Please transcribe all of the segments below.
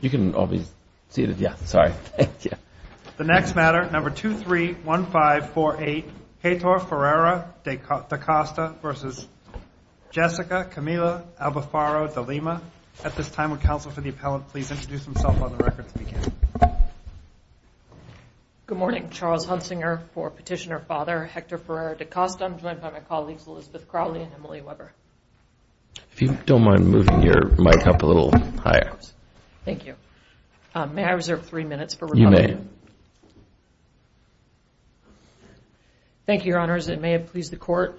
You can all be seated. Yeah, sorry. The next matter, number 231548, Hector Ferreira da Costa versus Jessica Camila Albefaro de Lima. At this time, would counsel for the appellant please introduce himself on the record to begin. Good morning, Charles Hunsinger for petitioner father Hector Ferreira da Costa. I'm joined by my colleagues Elizabeth Crowley and Emily Weber. If you don't mind moving your mic up a little higher. Thank you. May I reserve three minutes for rebuttal? You may. Thank you, your honors. It may have pleased the court.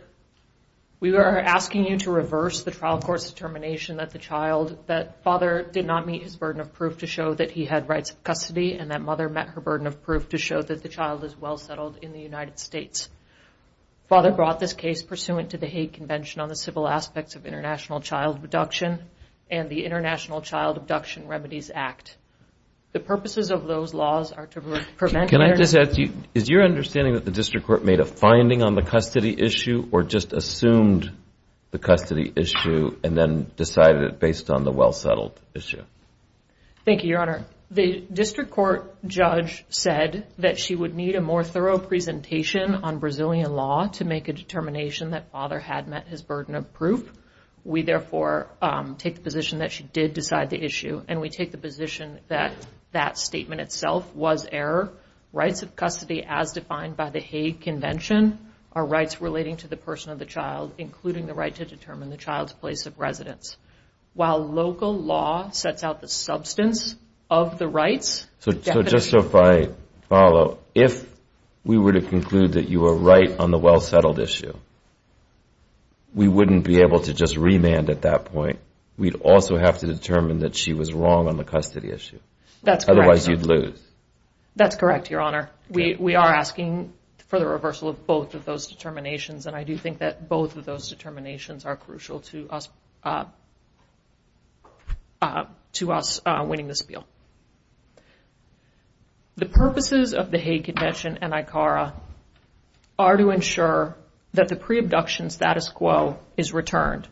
We are asking you to reverse the trial court's determination that the child that father did not meet his burden of proof to show that he had rights of custody and that mother met her burden of proof to show that the child is well settled in the United States. Father brought this case pursuant to the hate convention on the civil aspects of international child abduction and the International Child Abduction Remedies Act. The purposes of those laws are to prevent. Can I just ask you, is your understanding that the district court made a finding on the custody issue or just assumed the custody issue and then decided it based on the well settled issue? Thank you, your honor. The district court judge said that she would need a more thorough presentation on Brazilian law to make a determination that father had met his burden of proof. We, therefore, take the position that she did decide the issue. And we take the position that that statement itself was error. Rights of custody, as defined by the hate convention, are rights relating to the person of the child, including the right to determine the child's place of residence. While local law sets out the substance of the rights. So just so I follow, if we were to conclude that you were right on the well settled issue, we wouldn't be able to just remand at that point. We'd also have to determine that she was wrong on the custody issue. That's correct. Otherwise, you'd lose. That's correct, your honor. We are asking for the reversal of both of those determinations. And I do think that both of those determinations are crucial to us winning this bill. The purposes of the hate convention and ICARA are to ensure that the pre-abduction status quo is returned.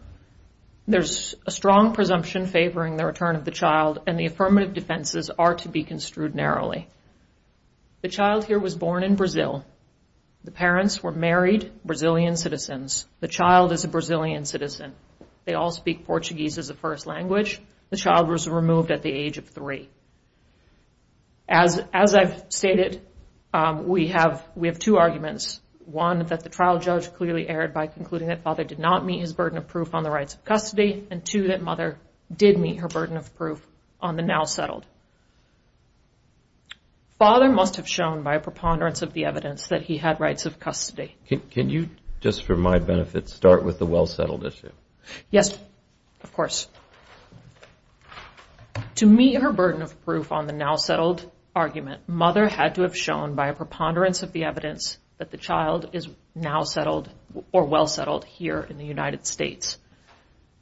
There's a strong presumption favoring the return of the child. And the affirmative defenses are to be construed narrowly. The child here was born in Brazil. The parents were married Brazilian citizens. The child is a Brazilian citizen. They all speak Portuguese as a first language. The child was removed at the age of three. As I've stated, we have two arguments. One, that the trial judge clearly erred by concluding that father did not meet his burden of proof on the rights of custody. And two, that mother did meet her burden of proof on the now settled. Father must have shown by a preponderance of the evidence that he had rights of custody. Can you, just for my benefit, start with the well settled issue? Yes, of course. To meet her burden of proof on the now settled argument, mother had to have shown by a preponderance of the evidence that the child is now settled or well settled here in the United States.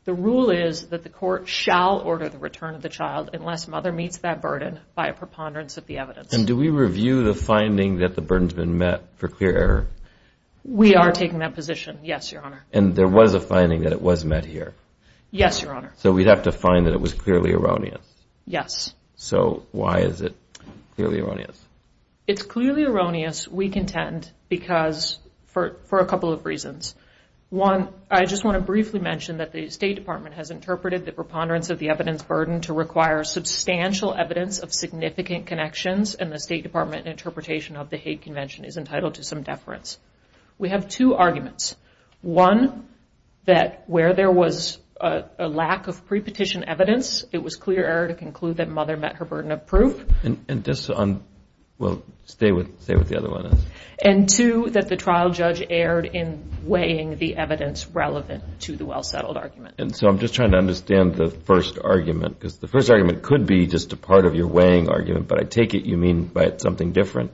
The rule is that the court shall order the return of the child unless mother meets that burden by a preponderance of the evidence. And do we review the finding that the burden's been met for clear error? We are taking that position, yes, Your Honor. And there was a finding that it was met here? Yes, Your Honor. So we'd have to find that it was clearly erroneous? Yes. So why is it clearly erroneous? It's clearly erroneous, we contend, because for a couple of reasons. One, I just want to briefly mention that the State Department has interpreted the preponderance of the evidence burden to require substantial evidence of significant connections. And the State Department interpretation of the hate convention is entitled to some deference. We have two arguments. One, that where there was a lack of pre-petition evidence, it was clear error to conclude that mother met her burden of proof. And this on, well, stay with the other one. And two, that the trial judge erred in weighing the evidence relevant to the well-settled argument. And so I'm just trying to understand the first argument. Because the first argument could be just a part of your weighing argument. But I take it you mean by it something different?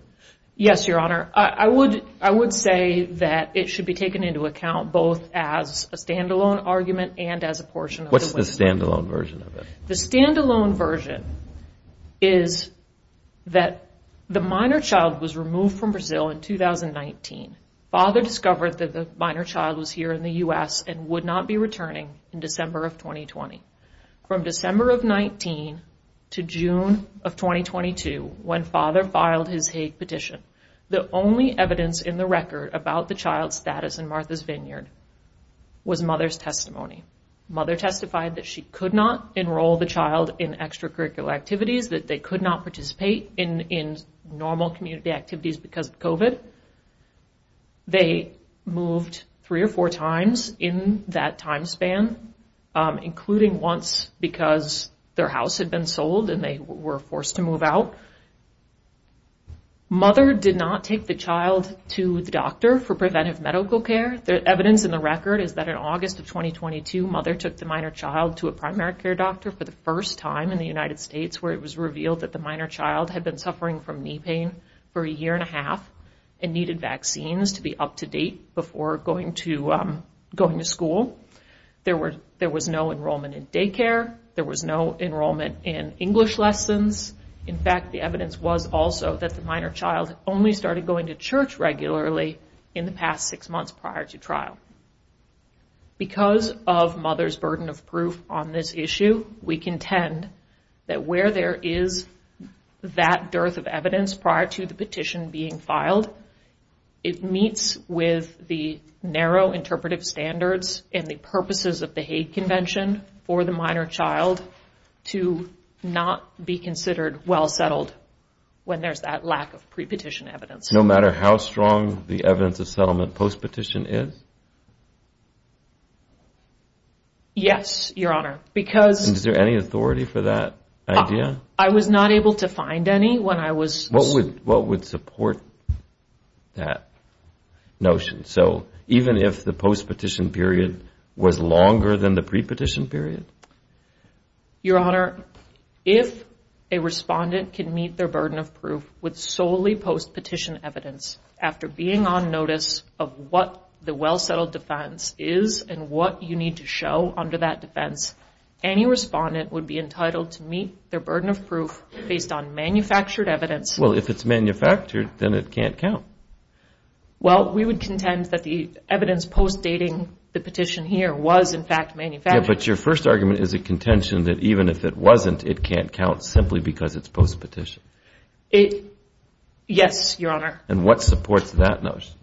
Yes, Your Honor. I would say that it should be taken into account, both as a standalone argument and as a portion of the weight. What's the standalone version of it? The standalone version is that the minor child was removed from Brazil in 2019. Father discovered that the minor child was here in the US and would not be returning in December of 2020. From December of 19 to June of 2022, when father filed his hate petition, the only evidence in the record about the child's status in Martha's Vineyard was mother's testimony. Mother testified that she could not enroll the child in extracurricular activities, that they could not participate in normal community activities because of COVID. They moved three or four times in that time span, including once because their house had been sold and they were forced to move out. Mother did not take the child to the doctor for preventive medical care. The evidence in the record is that in August of 2022, mother took the minor child to a primary care doctor for the first time in the United States, where it was revealed that the minor child had been suffering from knee pain for a year and a half and needed vaccines to be up to date before going to school. There was no enrollment in daycare. There was no enrollment in English lessons. In fact, the evidence was also that the minor child only started going to church regularly in the past six months prior to trial. Because of mother's burden of proof on this issue, we contend that where there is that dearth of evidence prior to the petition being filed, it meets with the narrow interpretive standards and the purposes of the hate convention for the minor child to not be considered well-settled when there's that lack of pre-petition evidence. No matter how strong the evidence of settlement post-petition is? Yes, Your Honor, because... Is there any authority for that idea? I was not able to find any when I was... What would support that notion? So even if the post-petition period was longer than the pre-petition period? Your Honor, if a respondent can meet their burden of proof with solely post-petition evidence after being on notice of what the well-settled defense is and what you need to show under that defense, any respondent would be entitled to meet their burden of proof based on manufactured evidence. Well, if it's manufactured, then it can't count. Well, we would contend that the evidence post-dating the petition here was, in fact, manufactured. But your first argument is a contention that even if it wasn't, it can't count simply because it's post-petition. Yes, Your Honor. And what supports that notion?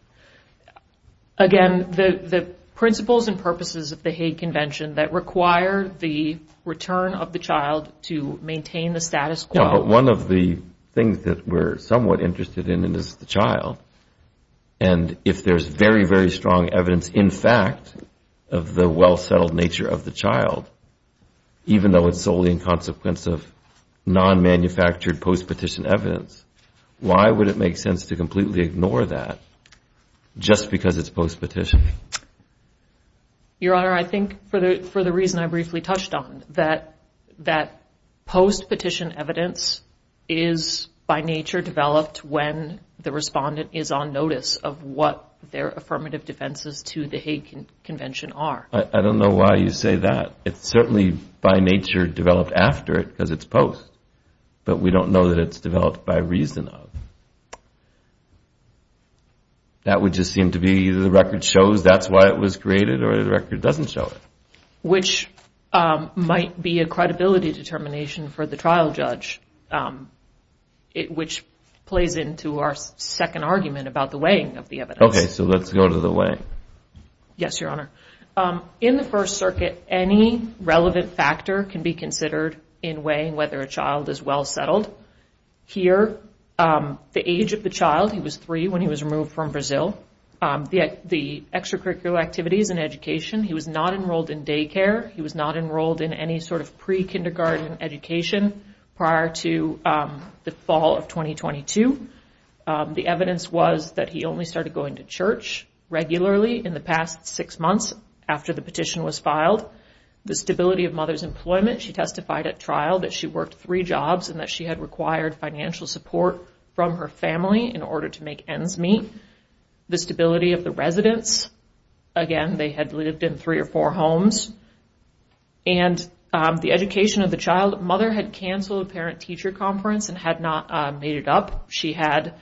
Again, the principles and purposes of the hate convention that require the return of the child to maintain the status quo. But one of the things that we're somewhat interested in is the child. And if there's very, very strong evidence, in fact, of the well-settled nature of the child, even though it's solely in consequence of non-manufactured post-petition evidence, why would it make sense to completely ignore that just because it's post-petition? Your Honor, I think for the reason I briefly touched on, that post-petition evidence is, by nature, developed when the respondent is on notice of what their affirmative defenses to the hate convention are. I don't know why you say that. It's certainly, by nature, developed after it because it's post. But we don't know that it's developed by reason of. That would just seem to be the record shows that's why it was created, or the record doesn't show it. Which might be a credibility determination for the trial judge, which plays into our second argument about the weighing of the evidence. OK, so let's go to the weighing. Yes, Your Honor. In the First Circuit, any relevant factor can be considered in weighing whether a child is well-settled. Here, the age of the child, he was three when he was removed from Brazil. The extracurricular activities and education, he was not enrolled in daycare. He was not enrolled in any sort of pre-kindergarten education prior to the fall of 2022. The evidence was that he only started going to church regularly in the past six months after the petition was filed. The stability of mother's employment, she testified at trial that she worked three jobs and that she had required financial support from her family in order to make ends meet. The stability of the residence, again, they had lived in three or four homes. And the education of the child, mother had canceled a parent-teacher conference and had not made it up. She had,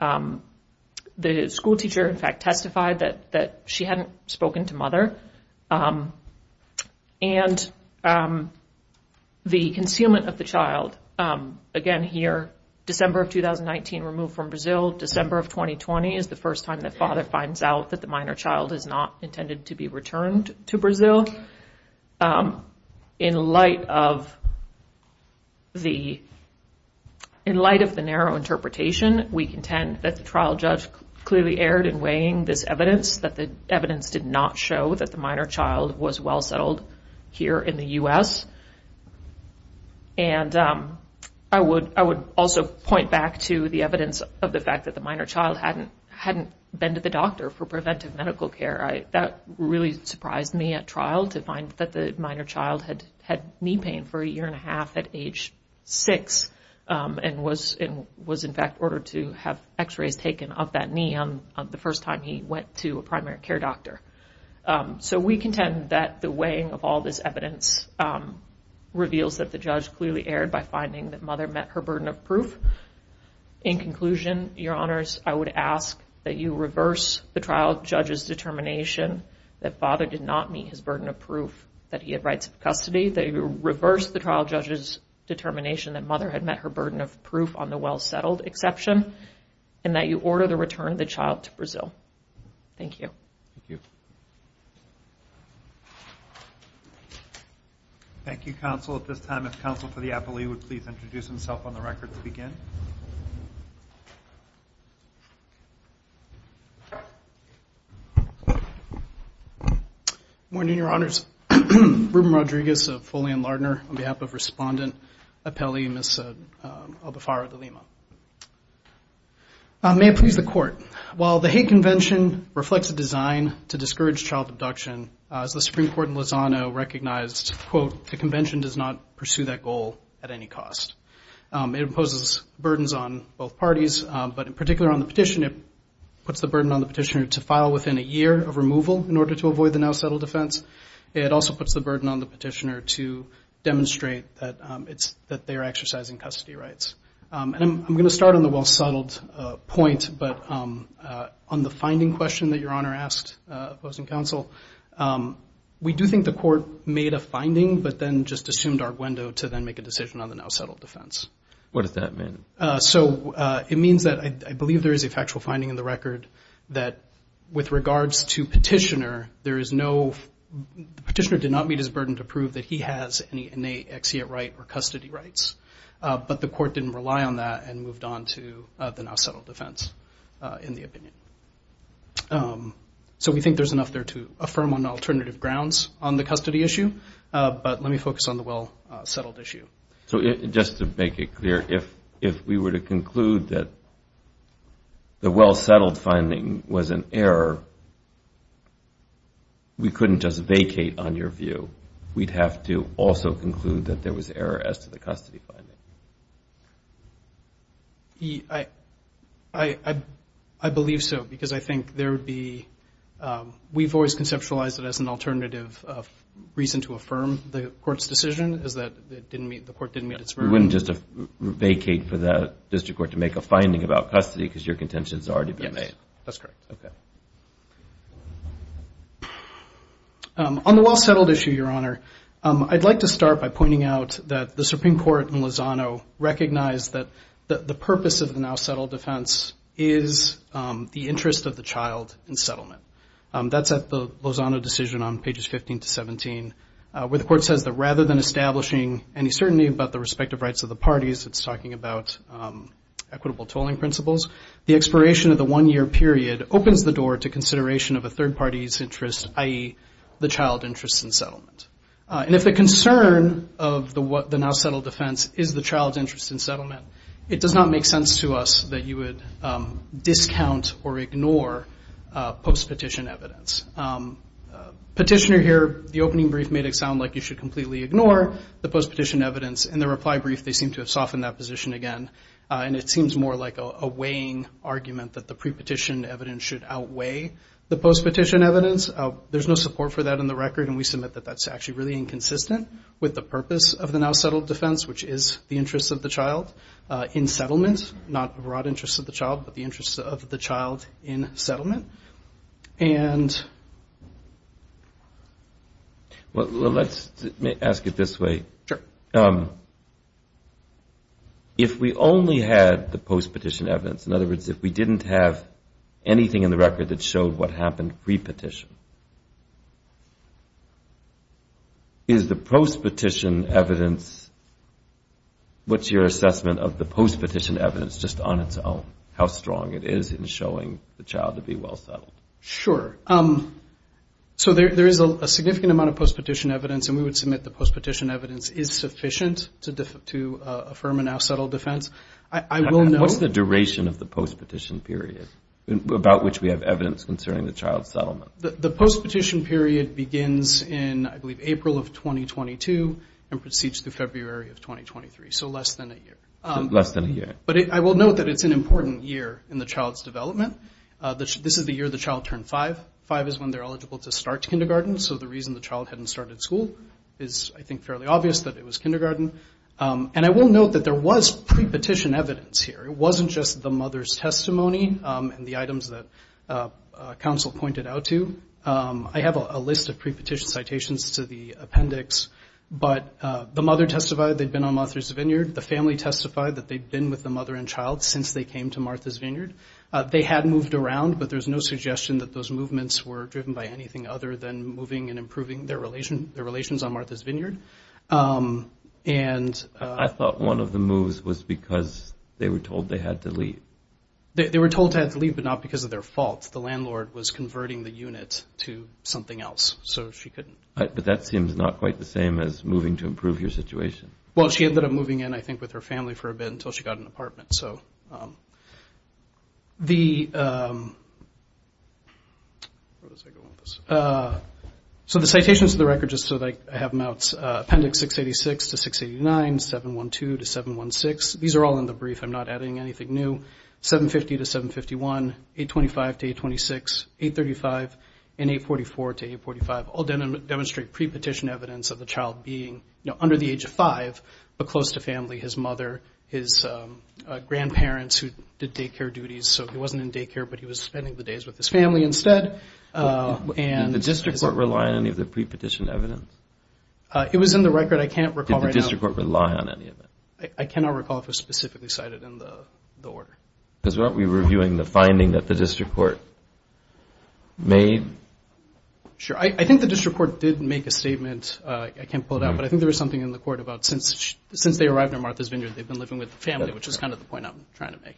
the schoolteacher, in fact, testified that she hadn't spoken to mother. And the concealment of the child, again, here, December of 2019, removed from Brazil. December of 2020 is the first time that father finds out that the minor child is not intended to be returned to Brazil. In light of the narrow interpretation, we contend that the trial judge clearly erred in weighing this evidence, that the evidence did not show that the minor child was well-settled here in the US. And I would also point back to the evidence of the fact that the minor child hadn't been to the doctor for preventive medical care. That really surprised me at trial, to find that the minor child had knee pain for a year and a half at age six, and was, in fact, ordered to have x-rays taken of that knee the first time he went to a primary care doctor. So we contend that the weighing of all this evidence reveals that the judge clearly erred by finding that mother met her burden of proof. In conclusion, your honors, I would ask that you reverse the trial judge's determination that father did not meet his burden of proof that he had rights of custody, that you reverse the trial judge's determination that mother had met her burden of proof on the well-settled exception, and that you order the return of the child to Brazil. Thank you. Thank you. Thank you, counsel. At this time, if counsel for the appellee would please introduce himself on the record to begin. Thank you. Good morning, your honors. Ruben Rodriguez of Foley and Lardner on behalf of respondent appellee, Ms. Albafaro de Lima. May it please the court. While the hate convention reflects a design to discourage child abduction, as the Supreme Court in Lozano recognized, quote, the convention does not pursue that goal at any cost. It imposes burdens on both parties, but in particular on the petition, it puts the burden on the petitioner to file within a year of removal in order to avoid the now-settled defense. It also puts the burden on the petitioner to demonstrate that they are exercising custody rights. And I'm going to start on the well-settled point, but on the finding question that your honor asked opposing counsel, we do think the court made a finding, but then just assumed arguendo to then make a decision on the now-settled defense. What does that mean? So it means that I believe there is a factual finding in the record that with regards to petitioner, there is no petitioner did not meet his burden to prove that he has any innate exeunt right or custody rights. But the court didn't rely on that and moved on to the now-settled defense in the opinion. So we think there's enough there to affirm on alternative grounds on the custody issue, but let me focus on the well-settled issue. So just to make it clear, if we were to conclude that the well-settled finding was an error, we couldn't just vacate on your view. We'd have to also conclude that there was error as to the custody finding. I believe so, because I think there would be, we've always conceptualized it as an alternative reason to affirm the court's decision, is that the court didn't meet its burden. You wouldn't just vacate for the district court to make a finding about custody, because your contention's already been made. That's correct. On the well-settled issue, Your Honor, I'd like to start by pointing out that the Supreme Court in Lozano recognized is the interest of the child in settlement. That's at the Lozano decision on pages 15 to 17, where the court says that rather than establishing any certainty about the respective rights of the parties, it's talking about equitable tolling principles, the expiration of the one-year period opens the door to consideration of a third party's interest, i.e. the child interest in settlement. And if the concern of the now settled defense is the child's interest in settlement, it does not make sense to us that you would discount or ignore post-petition evidence. Petitioner here, the opening brief made it sound like you should completely ignore the post-petition evidence. In the reply brief, they seem to have softened that position again, and it seems more like a weighing argument that the pre-petition evidence should outweigh the post-petition evidence. There's no support for that in the record, and we submit that that's actually really inconsistent with the purpose of the now settled defense, which is the interest of the child in settlement, not the broad interest of the child, but the interest of the child in settlement. And let's ask it this way. If we only had the post-petition evidence, in other words, if we didn't have anything in the record that showed what happened pre-petition, is the post-petition evidence, what's your assessment of the post-petition evidence just on its own, how strong it is in showing the child to be well settled? Sure. So there is a significant amount of post-petition evidence, and we would submit the post-petition evidence is sufficient to affirm a now settled defense. I will note. What's the duration of the post-petition period about which we have evidence concerning the child's settlement? The post-petition period begins in, I believe, April of 2022 and proceeds through February of 2023, so less than a year. Less than a year. But I will note that it's an important year in the child's development. This is the year the child turned five. Five is when they're eligible to start kindergarten, so the reason the child hadn't started school is, I think, fairly obvious that it was kindergarten. And I will note that there was pre-petition evidence here. It wasn't just the mother's testimony and the items that counsel pointed out to. I have a list of pre-petition citations to the appendix, but the mother testified. They'd been on Martha's Vineyard. The family testified that they'd been with the mother and child since they came to Martha's Vineyard. They had moved around, but there's no suggestion that those movements were driven by anything other than moving and improving their relations on Martha's Vineyard. And I thought one of the moves was because they were told they had to leave. They were told to have to leave, but not because of their fault. The landlord was converting the unit to something else, so she couldn't. But that seems not quite the same as moving to improve your situation. Well, she ended up moving in, I think, with her family for a bit until she got an apartment. So the citations to the record, just so that I have them out, appendix 686 to 689, 712 to 716, these are all in the brief. I'm not adding anything new. 750 to 751, 825 to 826, 835, and 844 to 845 all demonstrate pre-petition evidence of the child being under the age of five, but close to family, his mother, his grandparents, who did daycare duties. So he wasn't in daycare, but he was spending the days with his family instead. Did the district court rely on any of the pre-petition evidence? It was in the record. I can't recall right now. Did the district court rely on any of it? I cannot recall if it was specifically cited in the order. Because weren't we reviewing the finding that the district court made? Sure. I think the district court did make a statement. I can't pull it out. But I think there was something in the court about since they arrived at Martha's Vineyard, they've been living with the family, which is kind of the point I'm trying to make.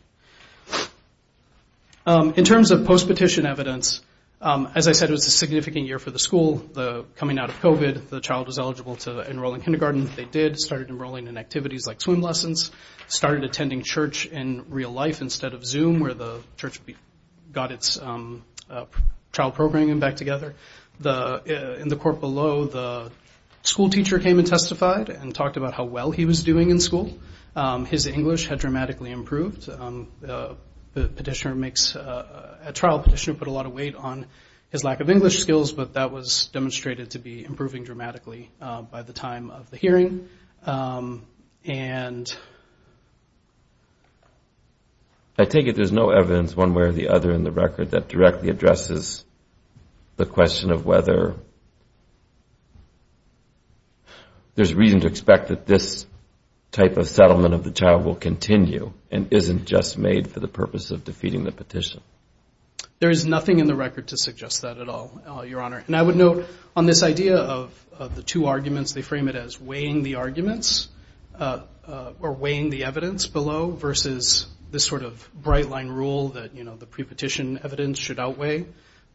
In terms of post-petition evidence, as I said, it was a significant year for the school. Coming out of COVID, the child was eligible to enroll in kindergarten. They did, started enrolling in activities like swim lessons, started attending church in real life instead of Zoom, where the church got its trial programming back together. In the court below, the school teacher came and testified and talked about how well he was doing in school. His English had dramatically improved. The petitioner makes a trial petitioner put a lot of weight on his lack of English skills. But that was demonstrated to be improving dramatically by the time of the hearing. And I take it there's no evidence one way or the other in the record that directly addresses the question of whether there's reason to expect that this type of settlement of the child will continue and isn't just made for the purpose of defeating the petition. There is nothing in the record to suggest that at all, Your Honor. And I would note on this idea of the two arguments, they frame it as weighing the arguments or weighing the evidence below versus this sort of bright line rule that the pre-petition evidence should outweigh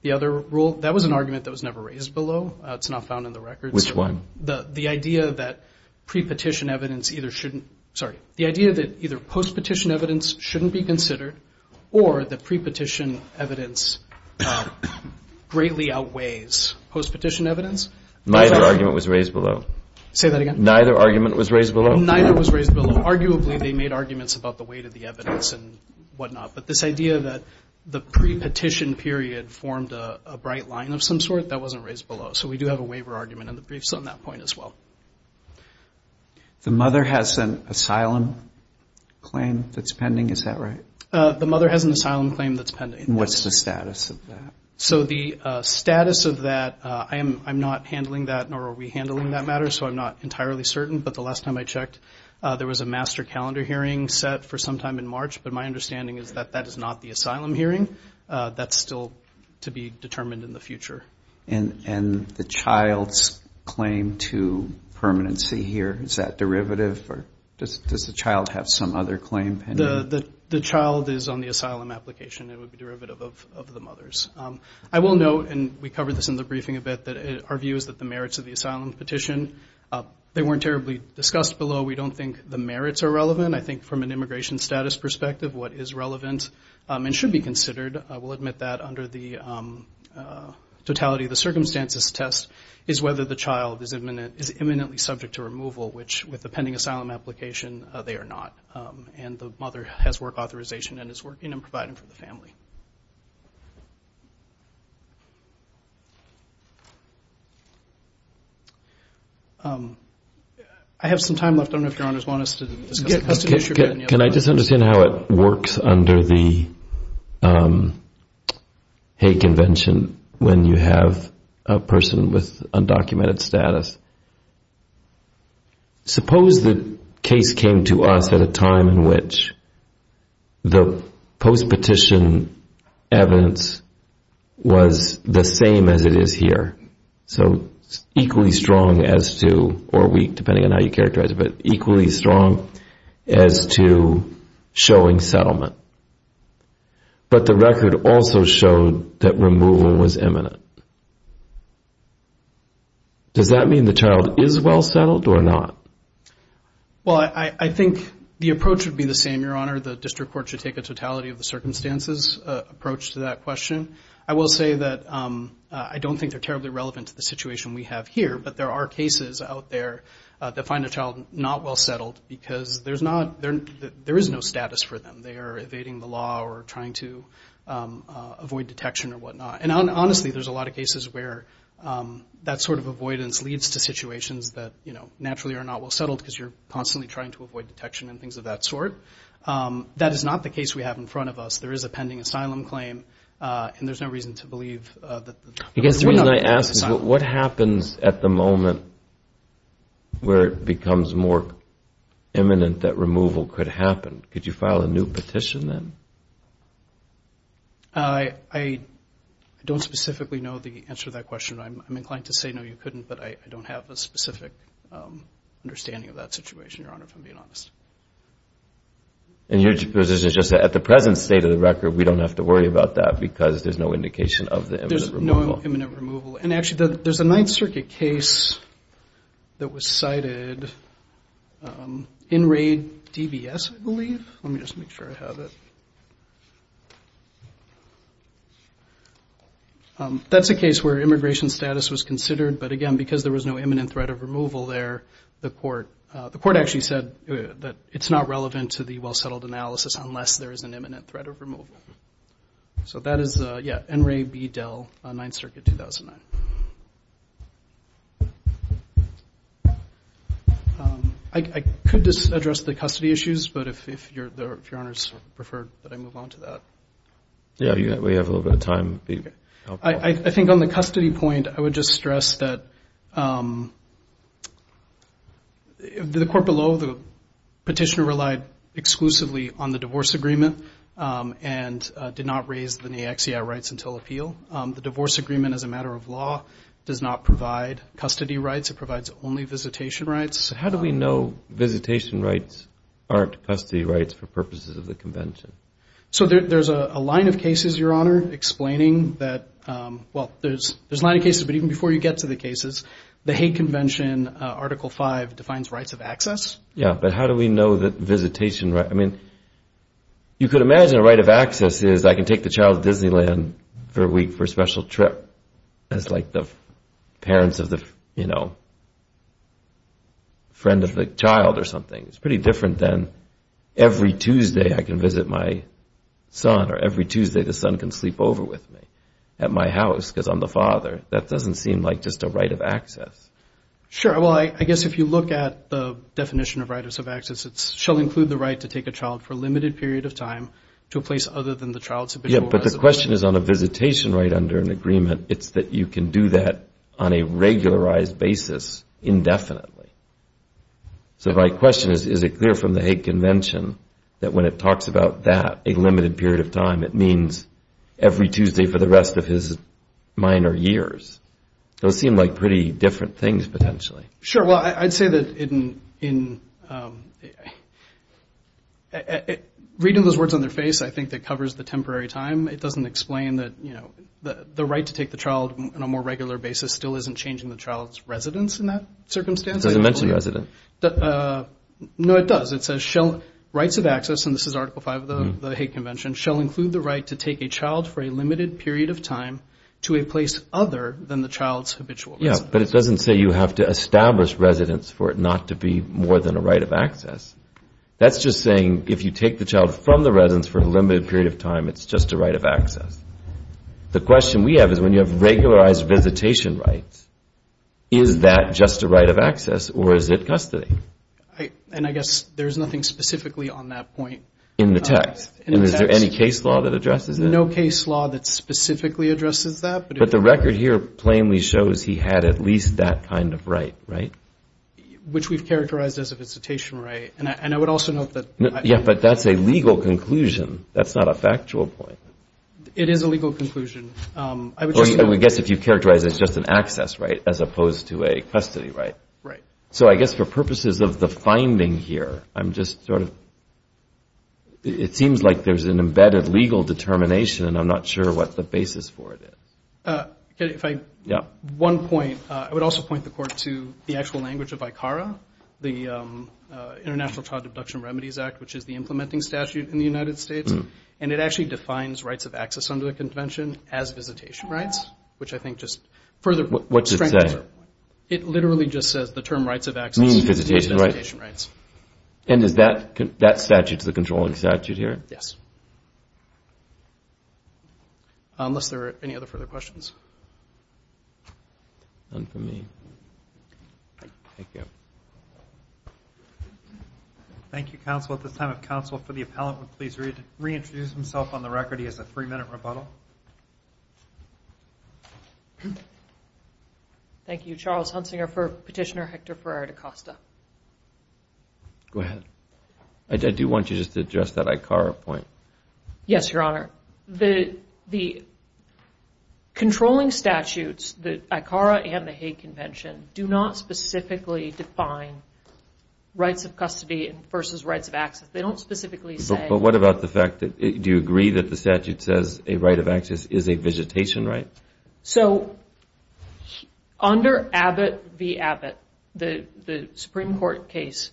the other rule. That was an argument that was never raised below. It's not found in the record. Which one? The idea that pre-petition evidence either shouldn't, sorry, the idea that either post-petition evidence shouldn't be considered or that pre-petition evidence greatly outweighs post-petition evidence. Neither argument was raised below. Say that again. Neither argument was raised below. Neither was raised below. Arguably, they made arguments about the weight of the evidence and whatnot. But this idea that the pre-petition period formed a bright line of some sort, that wasn't raised below. So we do have a waiver argument in the briefs on that point as well. The mother has an asylum claim that's pending. Is that right? The mother has an asylum claim that's pending. What's the status of that? So the status of that, I'm not handling that nor are we handling that matter. So I'm not entirely certain. But the last time I checked, there was a master calendar hearing set for some time in March. But my understanding is that that is not the asylum hearing. That's still to be determined in the future. And the child's claim to permanency here, is that derivative or does the child have some other claim pending? The child is on the asylum application. It would be derivative of the mother's. I will note, and we covered this in the briefing a bit, that our view is that the merits of the asylum petition, they weren't terribly discussed below. We don't think the merits are relevant. I think from an immigration status perspective, what is relevant and should be considered, I will admit that under the totality of the circumstances test is whether the child is imminently subject to removal, which with the pending asylum application, they are not. And the mother has work authorization and is working and providing for the family. I have some time left. I don't know if your honors want us to discuss the issue. Can I just understand how it works under the Hague Convention when you have a person with undocumented status? Suppose the case came to us at a time in which the post-petition evidence was the same as it is here. So equally strong as to, or weak depending on how you characterize it, but equally strong as to showing settlement. But the record also showed that removal was imminent. Does that mean the child is well settled or not? Well, I think the approach would be the same, your honor. The district court should take a totality of the circumstances approach to that question. I will say that I don't think they're terribly relevant to the situation we have here. But there are cases out there that find a child not well settled because there is no status for them. They are evading the law or trying to avoid detection or whatnot. And honestly, there's a lot of cases where that sort of avoidance leads to situations that naturally are not well settled because you're constantly trying to avoid detection and things of that sort. That is not the case we have in front of us. There is a pending asylum claim. And there's no reason to believe that the child is not pending asylum. What happens at the moment where it becomes more imminent that removal could happen? Could you file a new petition then? I don't specifically know the answer to that question. I'm inclined to say no, you couldn't. But I don't have a specific understanding of that situation, Your Honor, if I'm being honest. And your position is just that at the present state of the record, we don't have to worry about that because there's no indication of the imminent removal. There's no imminent removal. And actually, there's a Ninth Circuit case that was cited in raid DBS, I believe. Let me just make sure I have it. That's a case where immigration status was considered. But again, because there was no imminent threat of removal there, the court actually said that it's not relevant to the well-settled analysis unless there is an imminent threat of removal. So that is, yeah, NRAB Dell, Ninth Circuit, 2009. I could just address the custody issues. But if Your Honors prefer that I move on to that. Yeah, we have a little bit of time. I think on the custody point, I would just address that the court below, the petitioner relied exclusively on the divorce agreement and did not raise the NAICCI rights until appeal. The divorce agreement, as a matter of law, does not provide custody rights. It provides only visitation rights. How do we know visitation rights aren't custody rights for purposes of the convention? So there's a line of cases, Your Honor, explaining that, well, there's a line of cases. But even before you get to the cases, the Hague Convention, Article 5, defines rights of access. Yeah, but how do we know that visitation rights, I mean, you could imagine a right of access is I can take the child to Disneyland for a week for a special trip. That's like the parents of the, you know, friend of the child or something. It's pretty different than every Tuesday I can visit my son, or every Tuesday the son can sleep over with me at my house, because I'm the father. That doesn't seem like just a right of access. Sure. Well, I guess if you look at the definition of rights of access, it shall include the right to take a child for a limited period of time to a place other than the child's habitual residence. Yeah, but the question is on a visitation right under an agreement. It's that you can do that on a regularized basis indefinitely. So my question is, is it clear from the Hague Convention that when it talks about that, a limited period of time, it means every Tuesday for the rest of his minor years? Those seem like pretty different things, potentially. Sure, well, I'd say that reading those words on their face, I think that covers the temporary time. It doesn't explain that the right to take the child on a more regular basis still isn't changing the child's residence in that circumstance. It doesn't mention residence. No, it does. It says rights of access, and this is Article V of the Hague Convention, shall include the right to take a child for a limited period of time to a place other than the child's habitual residence. Yeah, but it doesn't say you have to establish residence for it not to be more than a right of access. That's just saying if you take the child from the residence for a limited period of time, it's just a right of access. The question we have is when you have regularized visitation rights, is that just a right of access, or is it custody? And I guess there's nothing specifically on that point. In the text. And is there any case law that addresses that? No case law that specifically addresses that. But the record here plainly shows he had at least that kind of right, right? Which we've characterized as a visitation right. And I would also note that. Yeah, but that's a legal conclusion. That's not a factual point. It is a legal conclusion. I would guess if you've characterized it as just an access right as opposed to a custody right. So I guess for purposes of the finding here, I'm just sort of, it seems like there's an embedded legal determination, and I'm not sure what the basis for it is. One point, I would also point the court to the actual language of ICARA, the International Child Deduction Remedies Act, which is the implementing statute in the United States. And it actually defines rights of access under the convention as visitation rights, which I think just further strengthens your point. It literally just says the term rights of access to these visitation rights. And is that statute the controlling statute here? Yes. Unless there are any other further questions. None for me. Thank you. Thank you, counsel. At this time, if counsel for the appellant would please reintroduce himself on the record. He has a three-minute rebuttal. Thank you, Charles Hunsinger for Petitioner Hector for Articosta. Go ahead. I do want you just to address that ICARA point. Yes, Your Honor. The controlling statutes, the ICARA and the Hague Convention, do not specifically define rights of custody versus rights of access. They don't specifically say. But what about the fact that, do you agree that the statute says a right of access is a visitation right? So under Abbott v. Abbott, the Supreme Court case,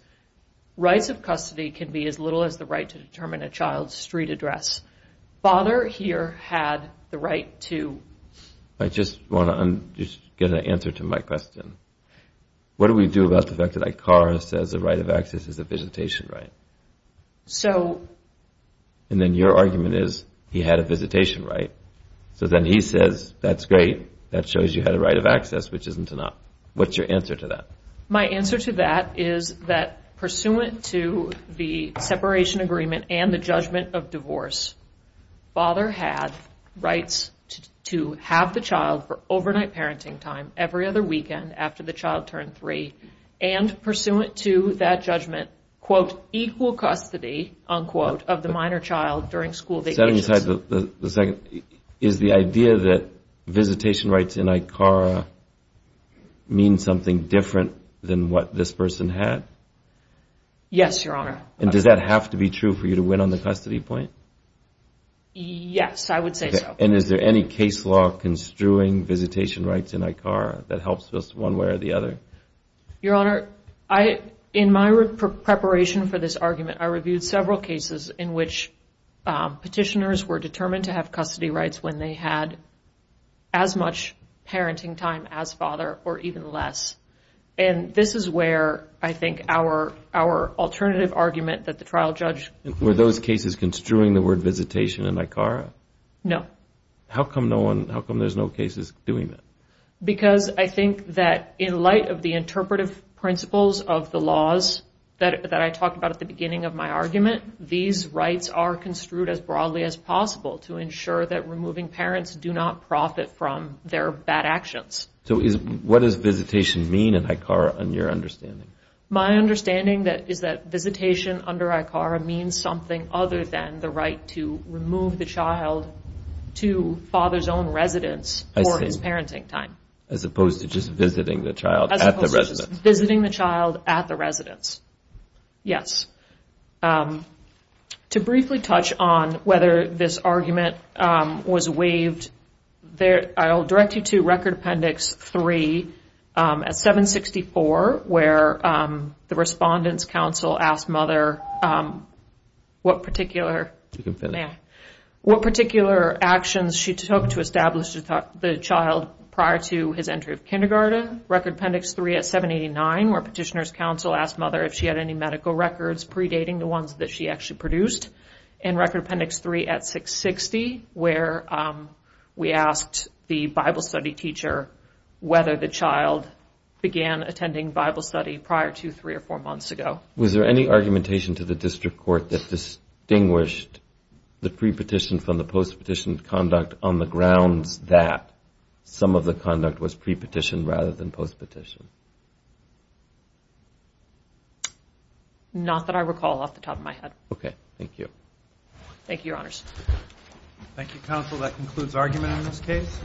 rights of custody can be as little as the right to determine a child's street address. Bonner here had the right to. I just want to get an answer to my question. What do we do about the fact that ICARA says a right of access is a visitation right? And then your argument is he had a visitation right. So then he says, that's great. That shows you had a right of access, which isn't enough. What's your answer to that? My answer to that is that, pursuant to the separation agreement and the judgment of divorce, father had rights to have the child for overnight parenting time every other weekend after the child turned three. And pursuant to that judgment, quote, equal custody, unquote, of the minor child during school vacations. Setting aside the second, is the idea that visitation rights in ICARA mean something different than what this person had? Yes, Your Honor. And does that have to be true for you to win on the custody point? Yes, I would say so. And is there any case law construing visitation rights in ICARA that helps us one way or the other? Your Honor, in my preparation for this argument, I reviewed several cases in which petitioners were determined to have custody rights when they had as much parenting time as father or even less. And this is where I think our alternative argument that the trial judge concluded. Were those cases construing the word visitation in ICARA? No. How come there's no cases doing that? Because I think that in light of the interpretive principles of the laws that I talked about at the beginning of my argument, these rights are construed as broadly as possible to ensure that removing parents do not profit from their bad actions. So what does visitation mean in ICARA, in your understanding? My understanding is that visitation under ICARA means something other than the right to remove the child to father's own residence for his parenting time. As opposed to just visiting the child at the residence. Visiting the child at the residence. Yes. To briefly touch on whether this argument was waived, I'll direct you to Record Appendix 3 at 764, where the Respondent's Counsel asked mother what particular actions she took to establish the child prior to his entry of kindergarten. Counsel asked mother if she had any medical records predating the ones that she actually produced. And Record Appendix 3 at 660, where we asked the Bible study teacher whether the child began attending Bible study prior to three or four months ago. Was there any argumentation to the district court that distinguished the pre-petition from the post-petition conduct on the grounds that some of the conduct was pre-petition rather than post-petition? Not that I recall off the top of my head. OK. Thank you. Thank you, Your Honors. Thank you, Counsel. That concludes argument in this case.